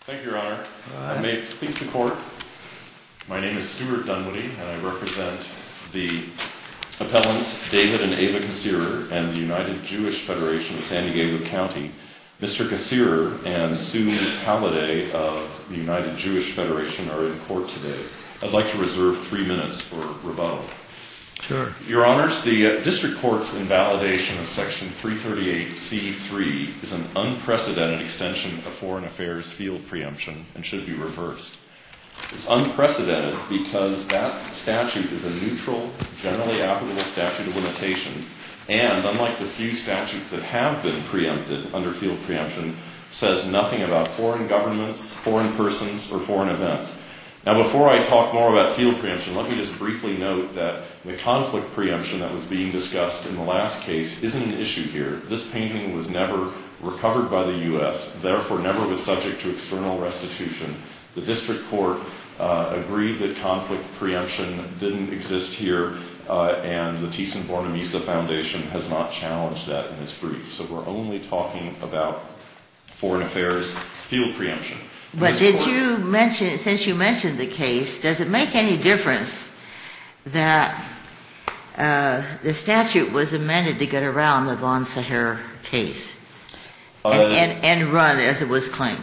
Thank you, Your Honor. I may please the court. My name is Stuart Dunwoody and I represent the appellants David and Ava Cassirer and the United Jewish Federation of San Diego County. Mr. Cassirer and Sue Halliday of the United Jewish Federation are in court today. I'd like to reserve three minutes for rebuttal. Sure. Your Honors, the district court's invalidation of Section 338C.3 is an unprecedented extension of foreign affairs field preemption and should be reversed. It's unprecedented because that statute is a neutral, generally applicable statute of limitations, and unlike the few statutes that have been preempted under field preemption, says nothing about foreign governments, foreign persons, or foreign events. Now before I talk more about field preemption, let me just briefly note that the conflict preemption that was being discussed in the last case isn't an issue here. This painting was never recovered by the U.S., therefore never was subject to external restitution. The district court agreed that conflict preemption didn't exist here and the Thyssen-Bornemisza Foundation has not challenged that in its brief. So we're only talking about foreign affairs field preemption. But did you mention, since you mentioned the case, does it make any difference that the statute was amended to get around the Von Sacher case and run as it was claimed?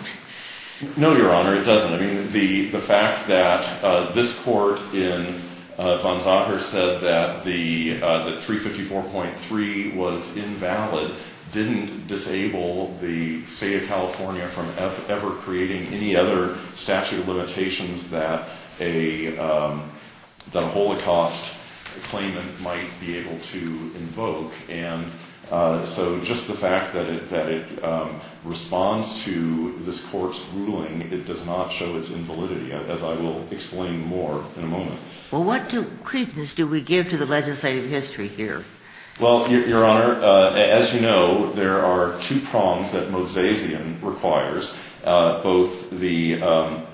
No, Your Honor, it doesn't. I mean, the fact that this court in Von Sacher said that 354.3 was invalid didn't disable the state of California from ever creating any other statute of limitations that a Holocaust claimant might be able to invoke. And so just the fact that it responds to this court's ruling, it does not show its invalidity, as I will explain more in a moment. Well, what credence do we give to the legislative history here? Well, Your Honor, as you know, there are two prongs that Mosesian requires, both the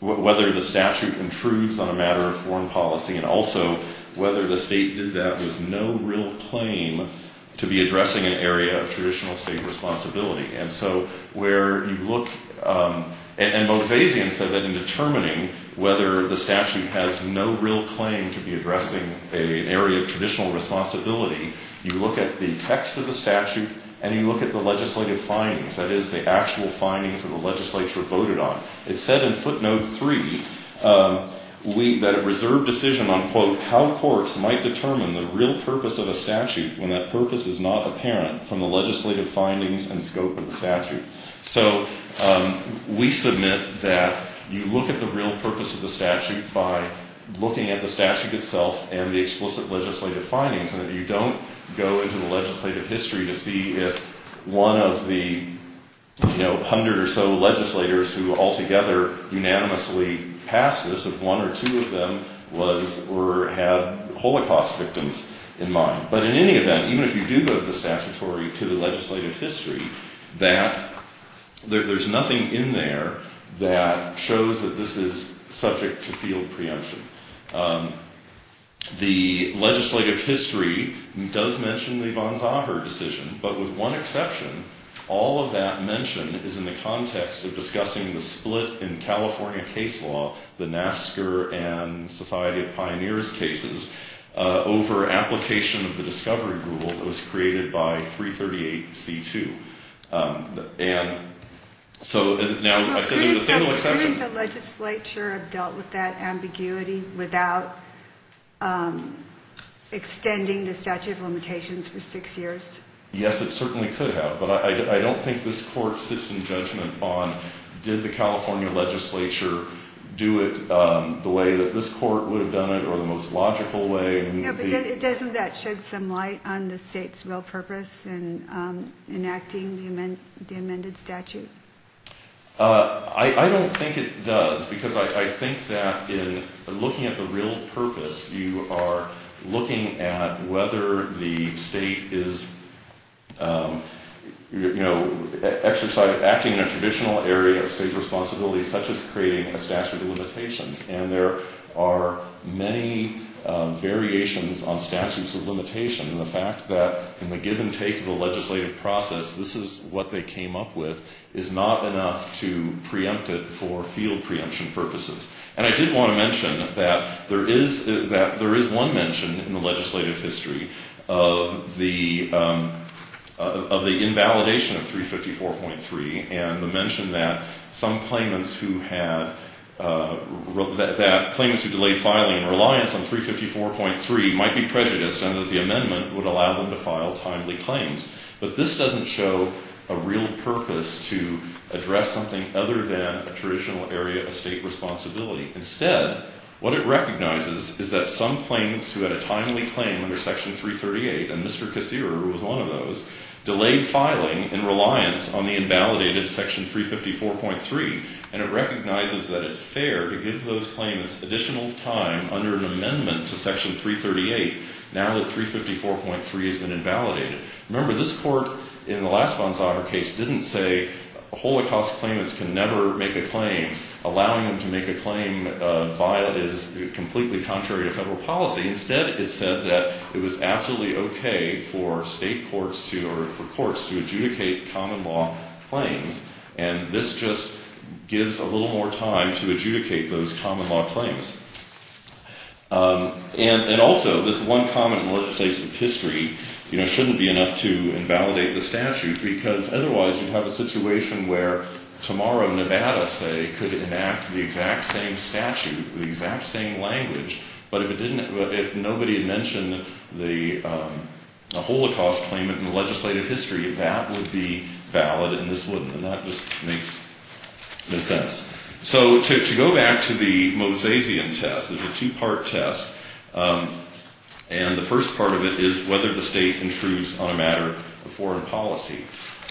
whether the statute intrudes on a matter of foreign policy and also whether the state did that with no real claim to be addressing an area of traditional state responsibility. And so where you look, and Mosesian said that in determining whether the statute has no real claim to be addressing an area of traditional responsibility, you look at the text of the statute and you look at the legislative findings, that is, the actual findings of the legislature voted on. It said in footnote three that a reserved decision on, quote, how courts might determine the real purpose of a statute when that purpose is not apparent from the legislative findings and scope of the statute. So we submit that you look at the real purpose of the statute by looking at the statute itself and the explicit legislative findings and that you don't go into the legislative history to see if one of the hundred or so legislators who altogether unanimously passed this, if one or two of them was or had Holocaust victims in mind. But in any event, even if you do go to the statutory to the legislative history, that, there's nothing in there that shows that this is subject to field preemption. The legislative history does mention the von Zahar decision, but with one exception, all of that mention is in the context of discussing the split in California case law, the NAFSCAR and Society of Pioneers cases, over application of the discovery rule that was created by 338C2. And so now I said there's a single exception. Can the legislature have dealt with that ambiguity without extending the statute of limitations for six years? Yes, it certainly could have. But I don't think this court sits in judgment on did the California legislature do it the way that this court would have done it or the most logical way. Doesn't that shed some light on the state's real purpose in enacting the amended statute? I don't think it does, because I think that in looking at the real purpose, you are looking at whether the state is acting in a traditional area of state responsibility, such as creating a statute of limitations. And there are many variations on statutes of limitation. The fact that in the give and take of the legislative process, this is what they came up with, is not enough to preempt it for field preemption purposes. And I did want to mention that there is one mention in the legislative history of the invalidation of 354.3 and the mention that some claimants who had, that claimants who delayed filing in reliance on 354.3 might be prejudiced and that the amendment would allow them to file timely claims. But this doesn't show a real purpose to address something other than a traditional area of state responsibility. Instead, what it recognizes is that some claimants who had a timely claim under Section 338, and Mr. Kucera was one of those, delayed filing in reliance on the invalidated Section 354.3. And it recognizes that it's fair to give those claimants additional time under an amendment to Section 338 now that 354.3 has been invalidated. Remember, this court in the last Banzhagar case didn't say Holocaust claimants can never make a claim. Allowing them to make a claim is completely contrary to federal policy. Instead, it said that it was absolutely okay for state courts to adjudicate common law claims. And this just gives a little more time to adjudicate those common law claims. And also, this one common legislative history shouldn't be enough to invalidate the statute. Because otherwise you'd have a situation where tomorrow Nevada, say, could enact the exact same statute, the exact same language. But if nobody had mentioned the Holocaust claimant in the legislative history, that would be valid and this wouldn't. And that just makes no sense. So to go back to the Mosezian test, it's a two-part test. And the first part of it is whether the state intrudes on a matter of foreign policy.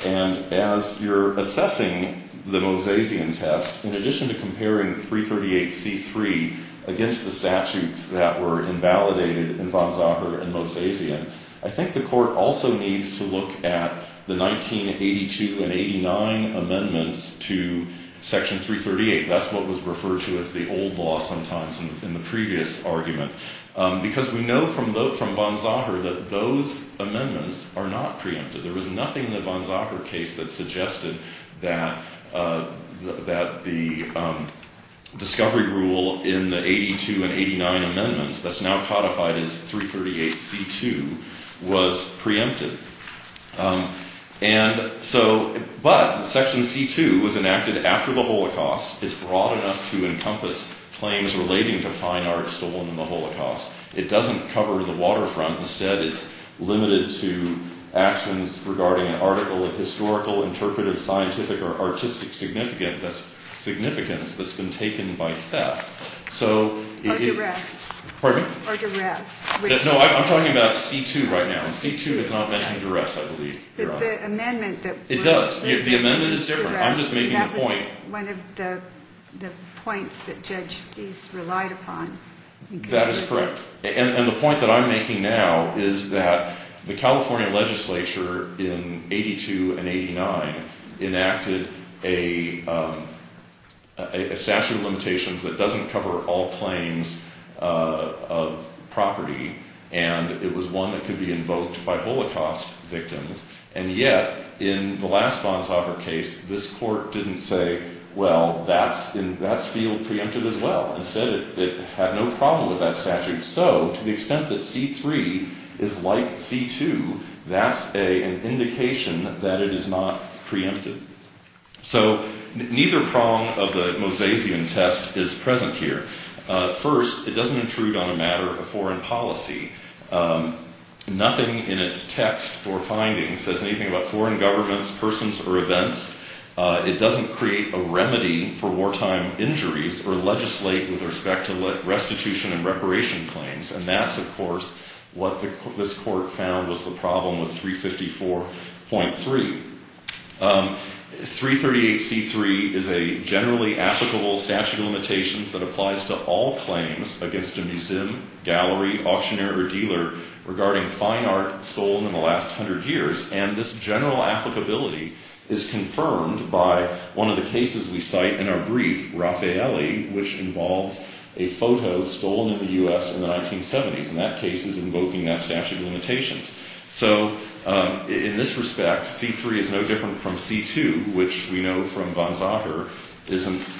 And as you're assessing the Mosezian test, in addition to comparing 338c.3 against the statutes that were invalidated in Banzhagar and Mosezian, I think the court also needs to look at the 1982 and 89 amendments to section 338. That's what was referred to as the old law sometimes in the previous argument. Because we know from Banzhagar that those amendments are not preempted. There was nothing in the Banzhagar case that suggested that the discovery rule in the 82 and 89 amendments, that's now codified as 338c.2, was preempted. But section c.2 was enacted after the Holocaust. It's broad enough to encompass claims relating to fine arts stolen in the Holocaust. It doesn't cover the waterfront. Instead, it's limited to actions regarding an article of historical, interpretive, scientific, or artistic significance that's been taken by theft. Or duress. Pardon me? Or duress. No, I'm talking about c.2 right now. And c.2 does not mention duress, I believe, Your Honor. But the amendment that... It does. The amendment is different. I'm just making a point. That was one of the points that Judge East relied upon. That is correct. And the point that I'm making now is that the California legislature in 82 and 89 enacted a statute of limitations that doesn't cover all claims of property. And it was one that could be invoked by Holocaust victims. And yet, in the last Banzhagar case, this court didn't say, well, that's field preempted as well. Instead, it had no problem with that statute. So, to the extent that c.3 is like c.2, that's an indication that it is not preempted. So, neither prong of the Mosaisian test is present here. First, it doesn't intrude on a matter of foreign policy. Nothing in its text or findings says anything about foreign governments, persons, or events. It doesn't create a remedy for wartime injuries or legislate with respect to restitution and reparation claims. And that's, of course, what this court found was the problem with 354.3. 338c.3 is a generally applicable statute of limitations that applies to all claims against a museum, gallery, auctioneer, or dealer regarding fine art stolen in the last 100 years. And this general applicability is confirmed by one of the cases we cite in our brief, Raffaele, which involves a photo stolen in the U.S. in the 1970s. And that case is invoking that statute of limitations. So, in this respect, c.3 is no different from c.2, which we know from Banzhagar isn't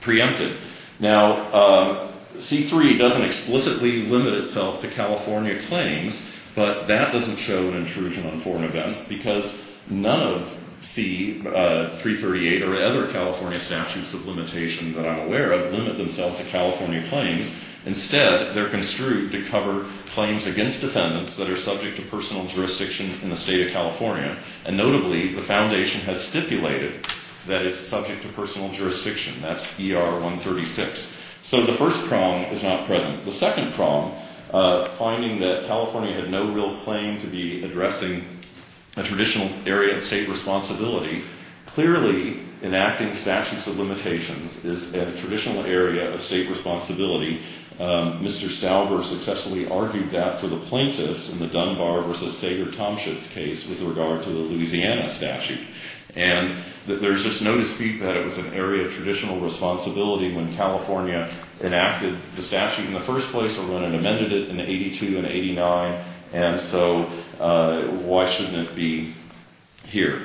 preempted. Now, c.3 doesn't explicitly limit itself to California claims, but that doesn't show an intrusion on foreign events because none of c.338 or other California statutes of limitation that I'm aware of limit themselves to California claims. Instead, they're construed to cover claims against defendants that are subject to personal jurisdiction in the state of California. And notably, the foundation has stipulated that it's subject to personal jurisdiction. That's ER 136. So, the first prong is not present. The second prong, finding that California had no real claim to be addressing a traditional area of state responsibility, clearly enacting statutes of limitations is a traditional area of state responsibility. Mr. Stauber successfully argued that for the plaintiffs in the Dunbar v. Sager-Tomschitz case with regard to the Louisiana statute. And there's just no dispute that it was an area of traditional responsibility when California enacted the statute in the first place or when it amended it in 82 and 89. And so, why shouldn't it be here?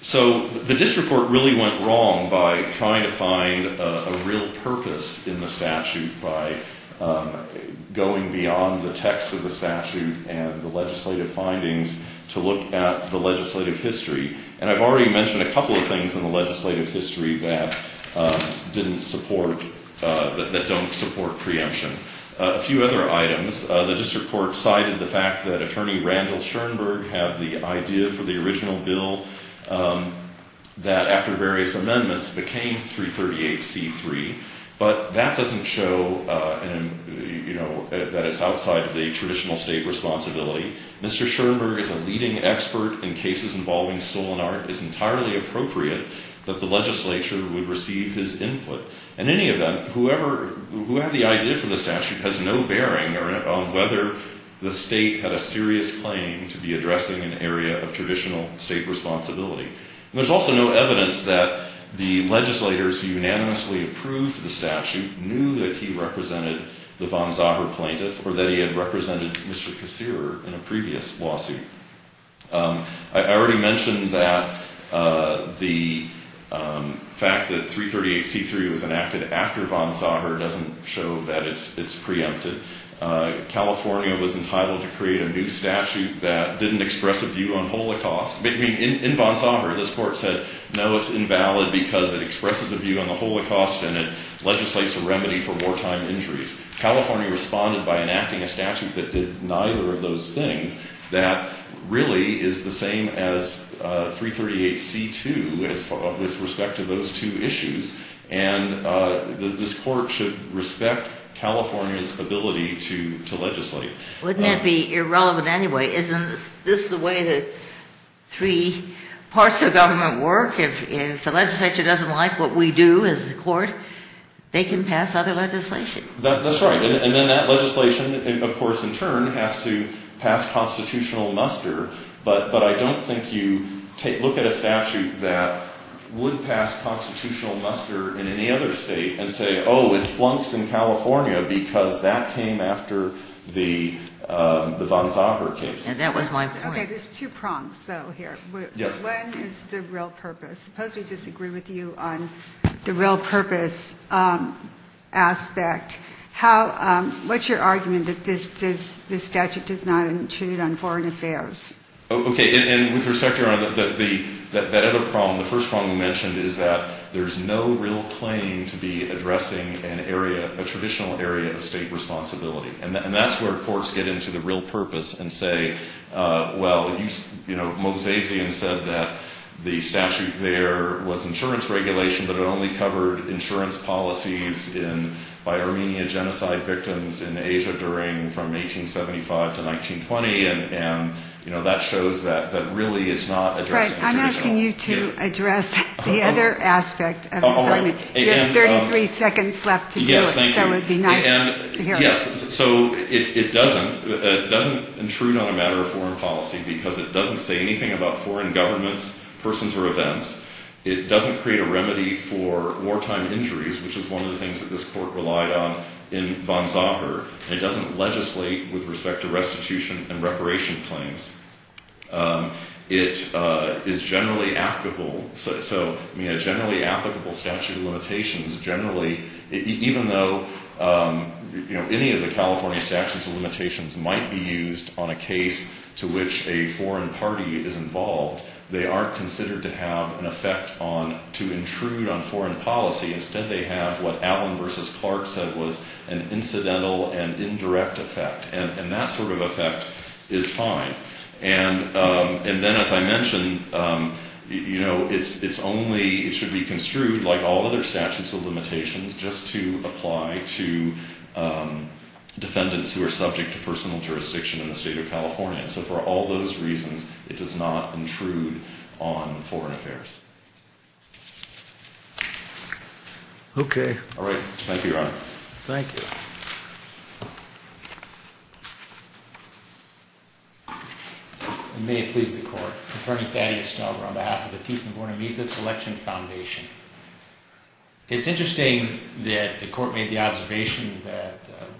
So, the district court really went wrong by trying to find a real purpose in the statute by going beyond the text of the statute and the legislative findings to look at the legislative history. And I've already mentioned a couple of things in the legislative history that didn't support, that don't support preemption. A few other items. The district court cited the fact that Attorney Randall Schoenberg had the idea for the original bill that, after various amendments, became 338C3. But that doesn't show, you know, that it's outside the traditional state responsibility. Mr. Schoenberg is a leading expert in cases involving stolen art. It's entirely appropriate that the legislature would receive his input. In any event, whoever, who had the idea for the statute has no bearing on whether the state had a serious claim to be addressing an area of traditional state responsibility. And there's also no evidence that the legislators who unanimously approved the statute knew that he represented the von Sager plaintiff or that he had represented Mr. Kassirer in a previous lawsuit. I already mentioned that the fact that 338C3 was enacted after von Sager doesn't show that it's preempted. California was entitled to create a new statute that didn't express a view on holocaust. I mean, in von Sager, this court said, no, it's invalid because it expresses a view on the holocaust and it legislates a remedy for wartime injuries. California responded by enacting a statute that did neither of those things that really is the same as 338C2 with respect to those two issues. And this court should respect California's ability to legislate. Wouldn't it be irrelevant anyway? Isn't this the way the three parts of government work? If the legislature doesn't like what we do as a court, they can pass other legislation. That's right. And then that legislation, of course, in turn, has to pass constitutional muster. But I don't think you look at a statute that would pass constitutional muster in any other state and say, oh, it flunks in California because that came after the von Sager case. And that was my point. Okay, there's two prongs, though, here. Yes. One is the real purpose. Suppose we disagree with you on the real purpose aspect. What's your argument that this statute does not intrude on foreign affairs? Okay, and with respect, Your Honor, that other prong, the first prong we mentioned is that there's no real claim to be addressing an area, a traditional area of state responsibility. And that's where courts get into the real purpose and say, well, you know, Mosezian said that the statute there was insurance regulation, but it only covered insurance policies by Armenia genocide victims in Asia during from 1875 to 1920. And, you know, that shows that really it's not addressing traditional. I'm asking you to address the other aspect of this argument. You have 33 seconds left to do it. Yes, thank you. I guess that would be nice to hear. Yes. So it doesn't intrude on a matter of foreign policy because it doesn't say anything about foreign governments, persons or events. It doesn't create a remedy for wartime injuries, which is one of the things that this court relied on in von Sager. And it doesn't legislate with respect to restitution and reparation claims. It is generally applicable. So, I mean, a generally applicable statute of limitations generally, even though, you know, any of the California statutes of limitations might be used on a case to which a foreign party is involved, they aren't considered to have an effect on to intrude on foreign policy. Instead, they have what Allen versus Clark said was an incidental and indirect effect. And that sort of effect is fine. And then, as I mentioned, you know, it's only, it should be construed like all other statutes of limitations just to apply to defendants who are subject to personal jurisdiction in the state of California. And so for all those reasons, it does not intrude on foreign affairs. Okay. All right. Thank you, Your Honor. Thank you. May it please the court. Attorney Thaddeus Stover on behalf of the Tiefenborn and Misa Selection Foundation. It's interesting that the court made the observation that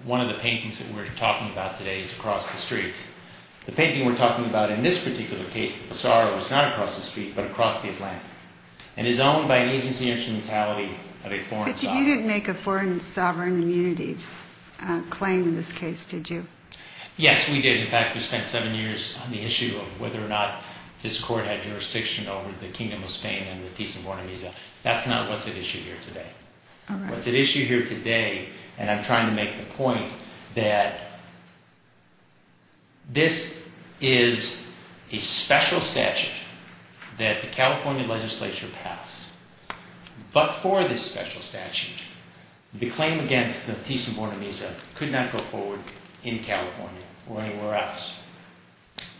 one of the paintings that we're talking about today is across the street. The painting we're talking about in this particular case, the Pissarro, is not across the street but across the Atlantic. And is owned by an agency instrumentality of a foreign sovereign. But you didn't make a foreign sovereign immunities claim in this case, did you? Yes, we did. In fact, we spent seven years on the issue of whether or not this court had jurisdiction over the Kingdom of Spain and the Tiefenborn and Misa. That's not what's at issue here today. All right. What's at issue here today, and I'm trying to make the point that this is a special statute that the California legislature passed. But for this special statute, the claim against the Tiefenborn and Misa could not go forward in California or anywhere else.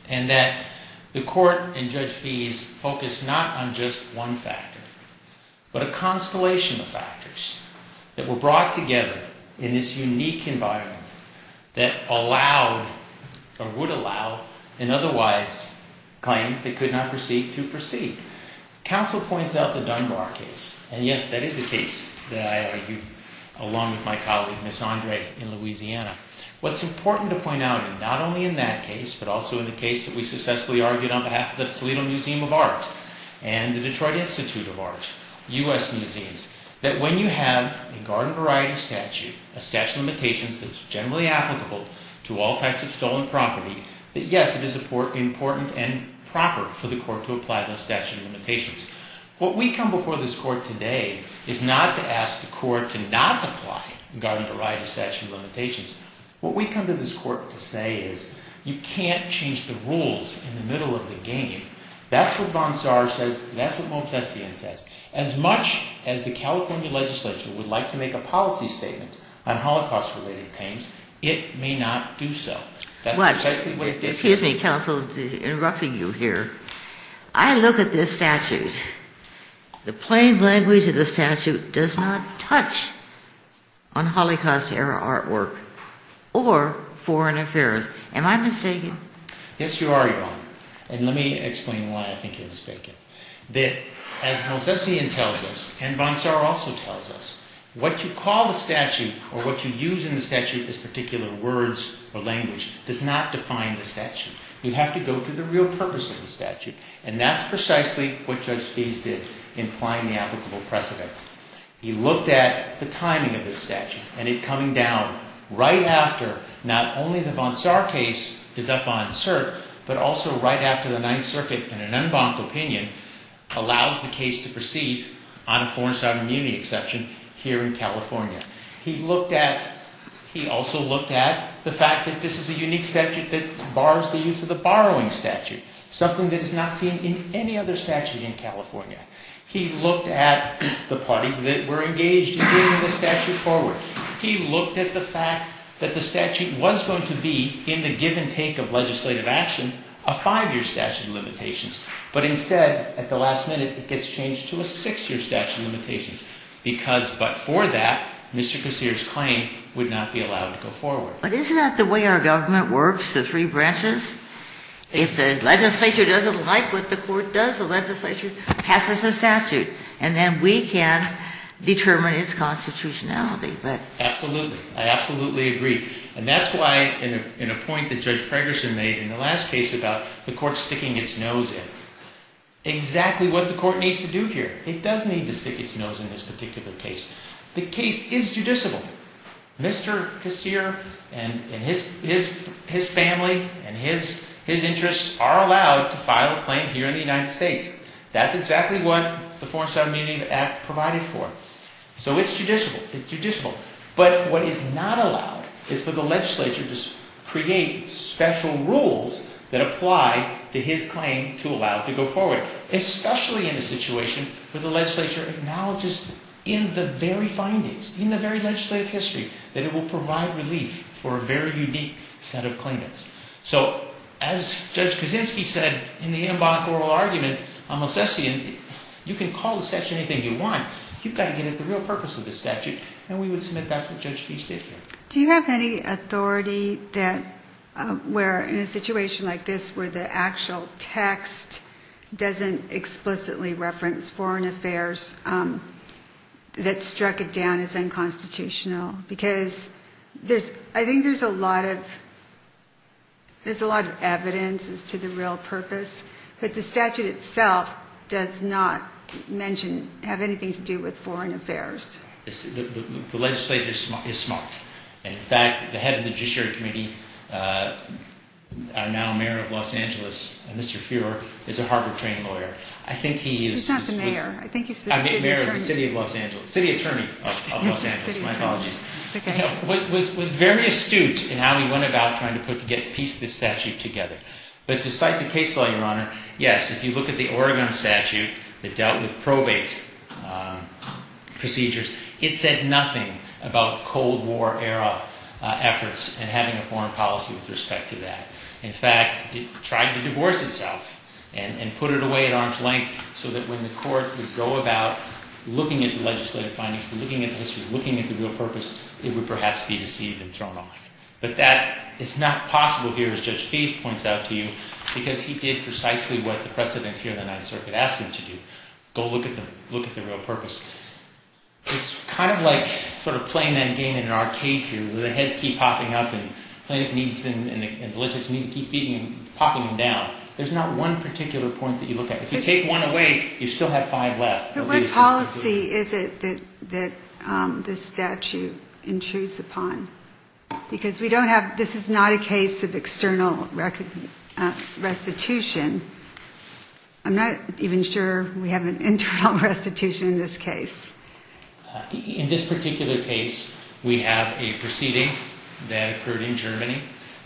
And that the court and Judge Fees focused not on just one factor, but a constellation of factors that were brought together in this unique environment that allowed or would allow an otherwise claim that could not proceed to proceed. Counsel points out the Dunbar case. And yes, that is a case that I argued along with my colleague, Ms. Andre, in Louisiana. What's important to point out, not only in that case, but also in the case that we successfully argued on behalf of the Toledo Museum of Art and the Detroit Institute of Art, U.S. museums. That when you have a garden variety statute, a statute of limitations that's generally applicable to all types of stolen property, that yes, it is important and proper for the court to apply those statute of limitations. What we come before this court today is not to ask the court to not apply garden variety statute of limitations. What we come to this court to say is, you can't change the rules in the middle of the game. That's what von Saar says. That's what Montessian says. As much as the California legislature would like to make a policy statement on Holocaust-related claims, it may not do so. Excuse me, counsel, interrupting you here. I look at this statute. The plain language of the statute does not touch on Holocaust-era artwork or foreign affairs. Am I mistaken? Yes, you are, Your Honor. And let me explain why I think you're mistaken. That as Montessian tells us, and von Saar also tells us, what you call the statute or what you use in the statute as particular words or language does not define the statute. You have to go to the real purpose of the statute. And that's precisely what Judge Spees did in applying the applicable precedent. He looked at the timing of this statute, and it coming down right after not only the von Saar case is up on cert, but also right after the Ninth Circuit, in an en banc opinion, allows the case to proceed on a forced-out immunity exception here in California. He also looked at the fact that this is a unique statute that bars the use of the borrowing statute, something that is not seen in any other statute in California. He looked at the parties that were engaged in bringing the statute forward. He looked at the fact that the statute was going to be, in the give-and-take of legislative action, a five-year statute of limitations. But instead, at the last minute, it gets changed to a six-year statute of limitations. Because, but for that, Mr. Kossiris' claim would not be allowed to go forward. But isn't that the way our government works, the three branches? If the legislature doesn't like what the court does, the legislature passes a statute. And then we can determine its constitutionality. Absolutely. I absolutely agree. And that's why, in a point that Judge Pregerson made in the last case about the court sticking its nose in, exactly what the court needs to do here, it does need to stick its nose in this particular case. The case is judiciable. Mr. Kossiris and his family and his interests are allowed to file a claim here in the United States. That's exactly what the Foreign Submarine Act provided for. So it's judiciable. But what is not allowed is for the legislature to create special rules that apply to his claim to allow it to go forward. Especially in a situation where the legislature acknowledges in the very findings, in the very legislative history, that it will provide relief for a very unique set of claimants. So, as Judge Kaczynski said in the Amboncourt argument on Mosesian, you can call the statute anything you want. You've got to get at the real purpose of this statute. And we would submit that's what Judge Feist did here. Do you have any authority where in a situation like this where the actual text doesn't explicitly reference foreign affairs that struck it down as unconstitutional? Because I think there's a lot of evidence as to the real purpose, but the statute itself does not mention, have anything to do with foreign affairs. The legislature is smart. In fact, the head of the Judiciary Committee, now mayor of Los Angeles, Mr. Fuhrer, is a Harvard trained lawyer. I think he is... He's not the mayor. I think he's the city attorney. City attorney of Los Angeles. My apologies. It's okay. Was very astute in how he went about trying to piece this statute together. But to cite the case law, Your Honor, yes, if you look at the Oregon statute that dealt with probate procedures, it said nothing about Cold War era efforts and having a foreign policy with respect to that. In fact, it tried to divorce itself and put it away at arm's length so that when the court would go about looking at the legislative findings, looking at the history, looking at the real purpose, it would perhaps be deceived and thrown off. But that is not possible here as Judge Feist points out to you because he did precisely what the precedent here in the Ninth Circuit asked him to do, go look at the real purpose. It's kind of like sort of playing that game in an arcade here where the heads keep popping up and plaintiff needs to keep beating and popping them down. There's not one particular point that you look at. If you take one away, you still have five left. But what policy is it that this statute intrudes upon? Because we don't have, this is not a case of external restitution. I'm not even sure we have an internal restitution in this case. In this particular case, we have a proceeding that occurred in Germany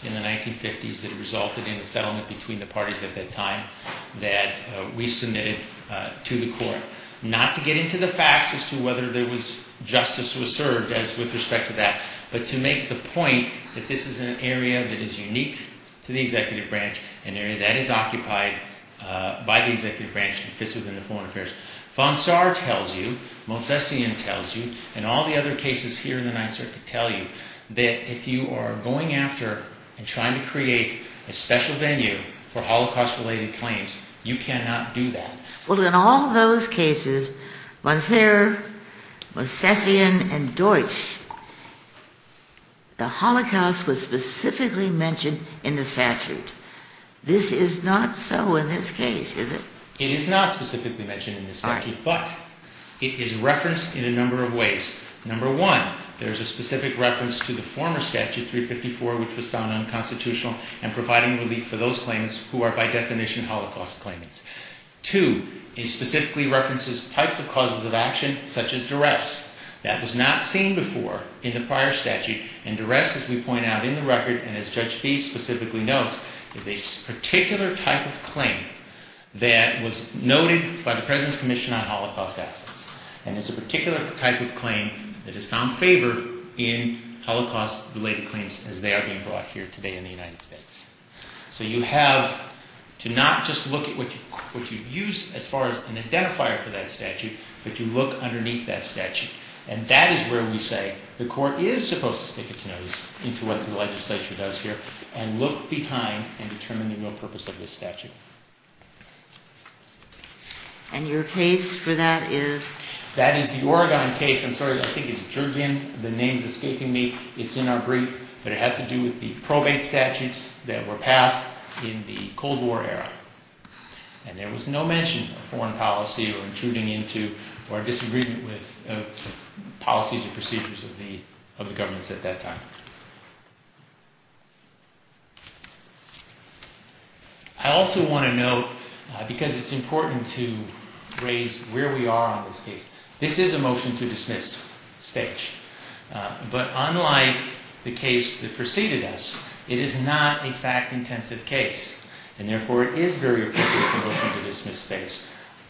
in the 1950s that resulted in a settlement between the parties at that time that we submitted to the court. Not to get into the facts as to whether justice was served with respect to that, but to make the point that this is an area that is unique to the executive branch, an area that is occupied by the executive branch and fits within the foreign affairs. Von Saar tells you, Montessian tells you, and all the other cases here in the Ninth Circuit tell you that if you are going after and trying to create a special venue for Holocaust-related claims, you cannot do that. Well, in all those cases, Von Saar, Montessian, and Deutsch, the Holocaust was specifically mentioned in the statute. This is not so in this case, is it? It is not specifically mentioned in the statute, but it is referenced in a number of ways. Number one, there is a specific reference to the former statute, 354, which was found unconstitutional and providing relief for those claims who are by definition Holocaust claimants. Two, it specifically references types of causes of action, such as duress, that was not seen before in the prior statute. And duress, as we point out in the record, and as Judge Fee specifically notes, is a particular type of claim that was noted by the President's Commission on Holocaust Access. And it's a particular type of claim that has found favor in Holocaust-related claims as they are being brought here today in the United States. So you have to not just look at what you use as far as an identifier for that statute, but you look underneath that statute. And that is where we say the Court is supposed to stick its nose into what the legislature does here and look behind and determine the real purpose of this statute. And your case for that is? That is the Oregon case. I'm sorry, I think it's Jurgen. The name's escaping me. It's in our brief, but it has to do with the probate statutes that were passed in the Cold War era. And there was no mention of foreign policy or intruding into or disagreement with policies or procedures of the governments at that time. I also want to note, because it's important to raise where we are on this case, this is a motion to dismiss stage. But unlike the case that preceded us, it is not a fact-intensive case. And therefore it is very appropriate for a motion to dismiss stage.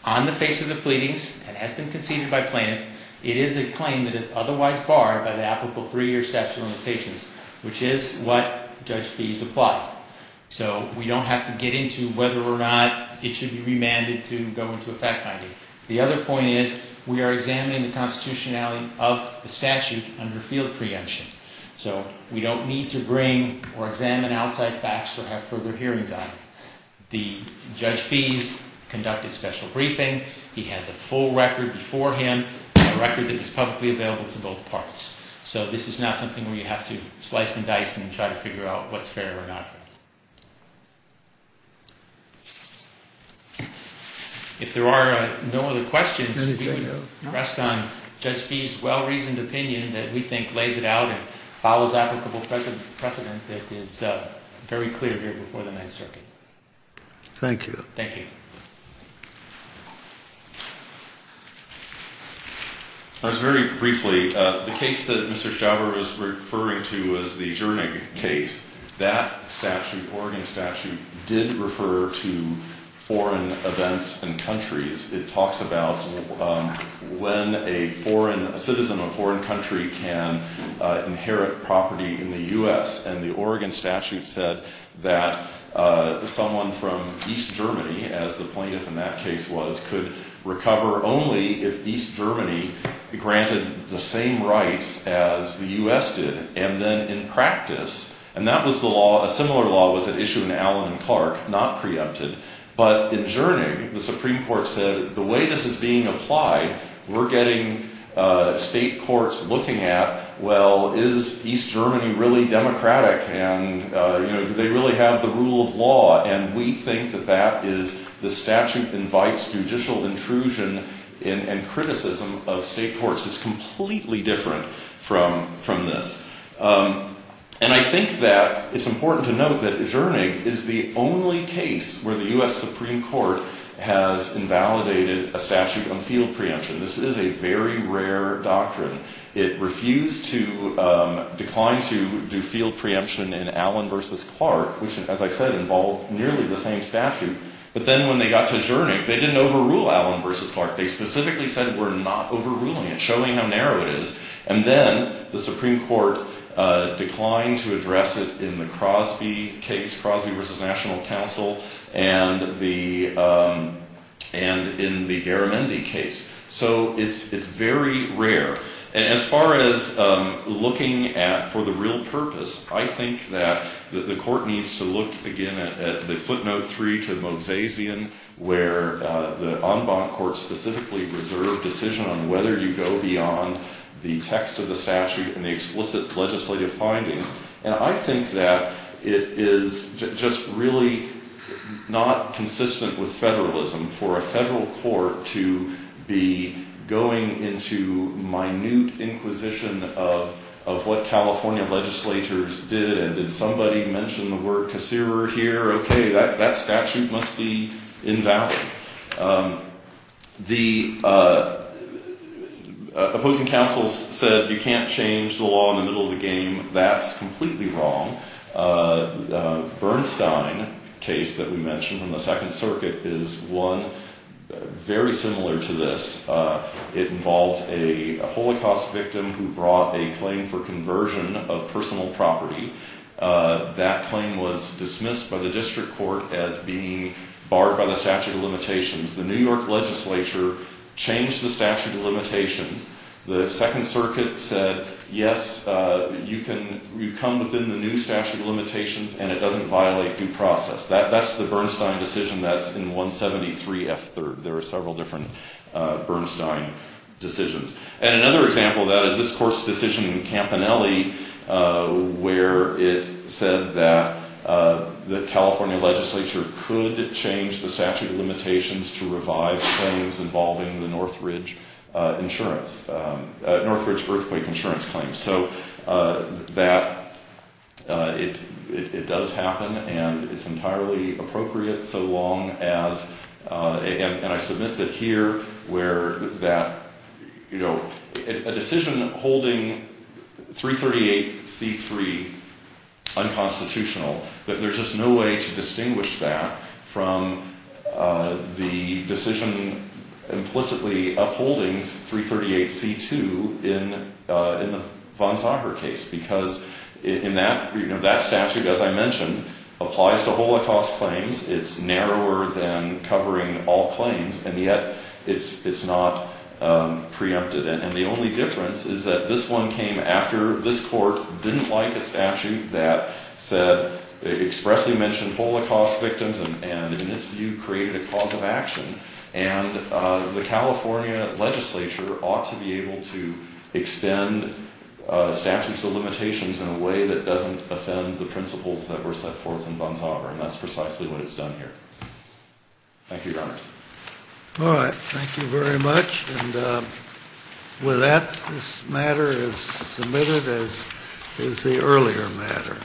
On the face of the pleadings, and has been conceded by plaintiffs, it is a claim that is otherwise barred by the applicable three-year statute of limitations, which is what Judge Fees applied. So we don't have to get into whether or not it should be remanded to go into a fact-finding. The other point is, we are examining the constitutionality of the statute under field preemption. So we don't need to bring or examine outside facts or have further hearings on it. The Judge Fees conducted special briefing, he had the full record beforehand, a record that was publicly available to both parts. So this is not something where you have to slice and dice and try to figure out what's fair or not fair. If there are no other questions, we would rest on Judge Fees' well-reasoned opinion that we think lays it out and follows applicable precedent that is very clear here before the Ninth Circuit. Thank you. Thank you. Just very briefly, the case that Mr. Schauber was referring to was the Jernig case. That statute, Oregon statute, did refer to foreign events and countries. It talks about when a citizen of a foreign country can inherit property in the U.S., and the Oregon statute said that someone from East Germany, as the plaintiff in that case was, could recover only if East Germany granted the same rights as the U.S. did. And then in practice, and that was the law, a similar law was at issue in Allen and Clark, not preempted. But in Jernig, the Supreme Court said, the way this is being applied, we're getting state courts looking at, well, is East Germany really democratic and, you know, do they really have the rule of law? And we think that that is the statute invites judicial intrusion and criticism of state courts. It's completely different from this. And I think that it's important to note that Jernig is the only case where the U.S. Supreme Court has invalidated a statute on field preemption. This is a very rare doctrine. It refused to decline to do field preemption in Allen v. Clark, which, as I said, involved nearly the same statute. But then when they got to Jernig, they didn't overrule Allen v. Clark. They specifically said, we're not overruling it, showing how narrow it is. And then the Supreme Court declined to address it in the Crosby case, Crosby v. National Council, and in the Garamendi case. So it's very rare. And as far as looking at, for the real purpose, I think that the court needs to look, again, at the footnote 3 to Mozazian, where the en banc court specifically reserved decision on whether you go beyond the text of the statute and the explicit legislative findings. And I think that it is just really not consistent with federalism for a federal court to be going into minute inquisition of what California legislators did. And if somebody mentioned the word concierger here, okay, that statute must be invalid. The opposing counsels said you can't change the law in the middle of the game. That's completely wrong. Bernstein case that we mentioned in the Second Circuit is one very similar to this. It involved a Holocaust victim who brought a claim for conversion of personal property. That claim was dismissed by the district court as being barred by the statute of limitations. The New York legislature changed the statute of limitations. The Second Circuit said, yes, you come within the new statute of limitations, and it doesn't violate due process. That's the Bernstein decision that's in 173 F. 3rd. There are several different Bernstein decisions. And another example of that is this court's decision in Campanelli where it said that the California legislature could change the statute of limitations to revive claims involving the Northridge insurance, Northridge earthquake insurance claims. So that, it does happen, and it's entirely appropriate so long as, and I submit that here where that, you know, a decision holding 338 C. 3 unconstitutional, that there's just no way to distinguish that from the decision implicitly upholding 338 C. 2 in the von Sacher case because in that, you know, that statute, as I mentioned, applies to Holocaust claims. It's narrower than covering all claims, and yet it's not preempted. And the only difference is that this one came after this court didn't like a statute that said, expressly mentioned Holocaust victims and, in its view, created a cause of action. And the California legislature ought to be able to extend statutes of limitations in a way that doesn't offend the principles that were set forth in von Sacher. And that's precisely what it's done here. Thank you, Your Honors. All right. Thank you very much. And with that, this matter is submitted as is the earlier matter.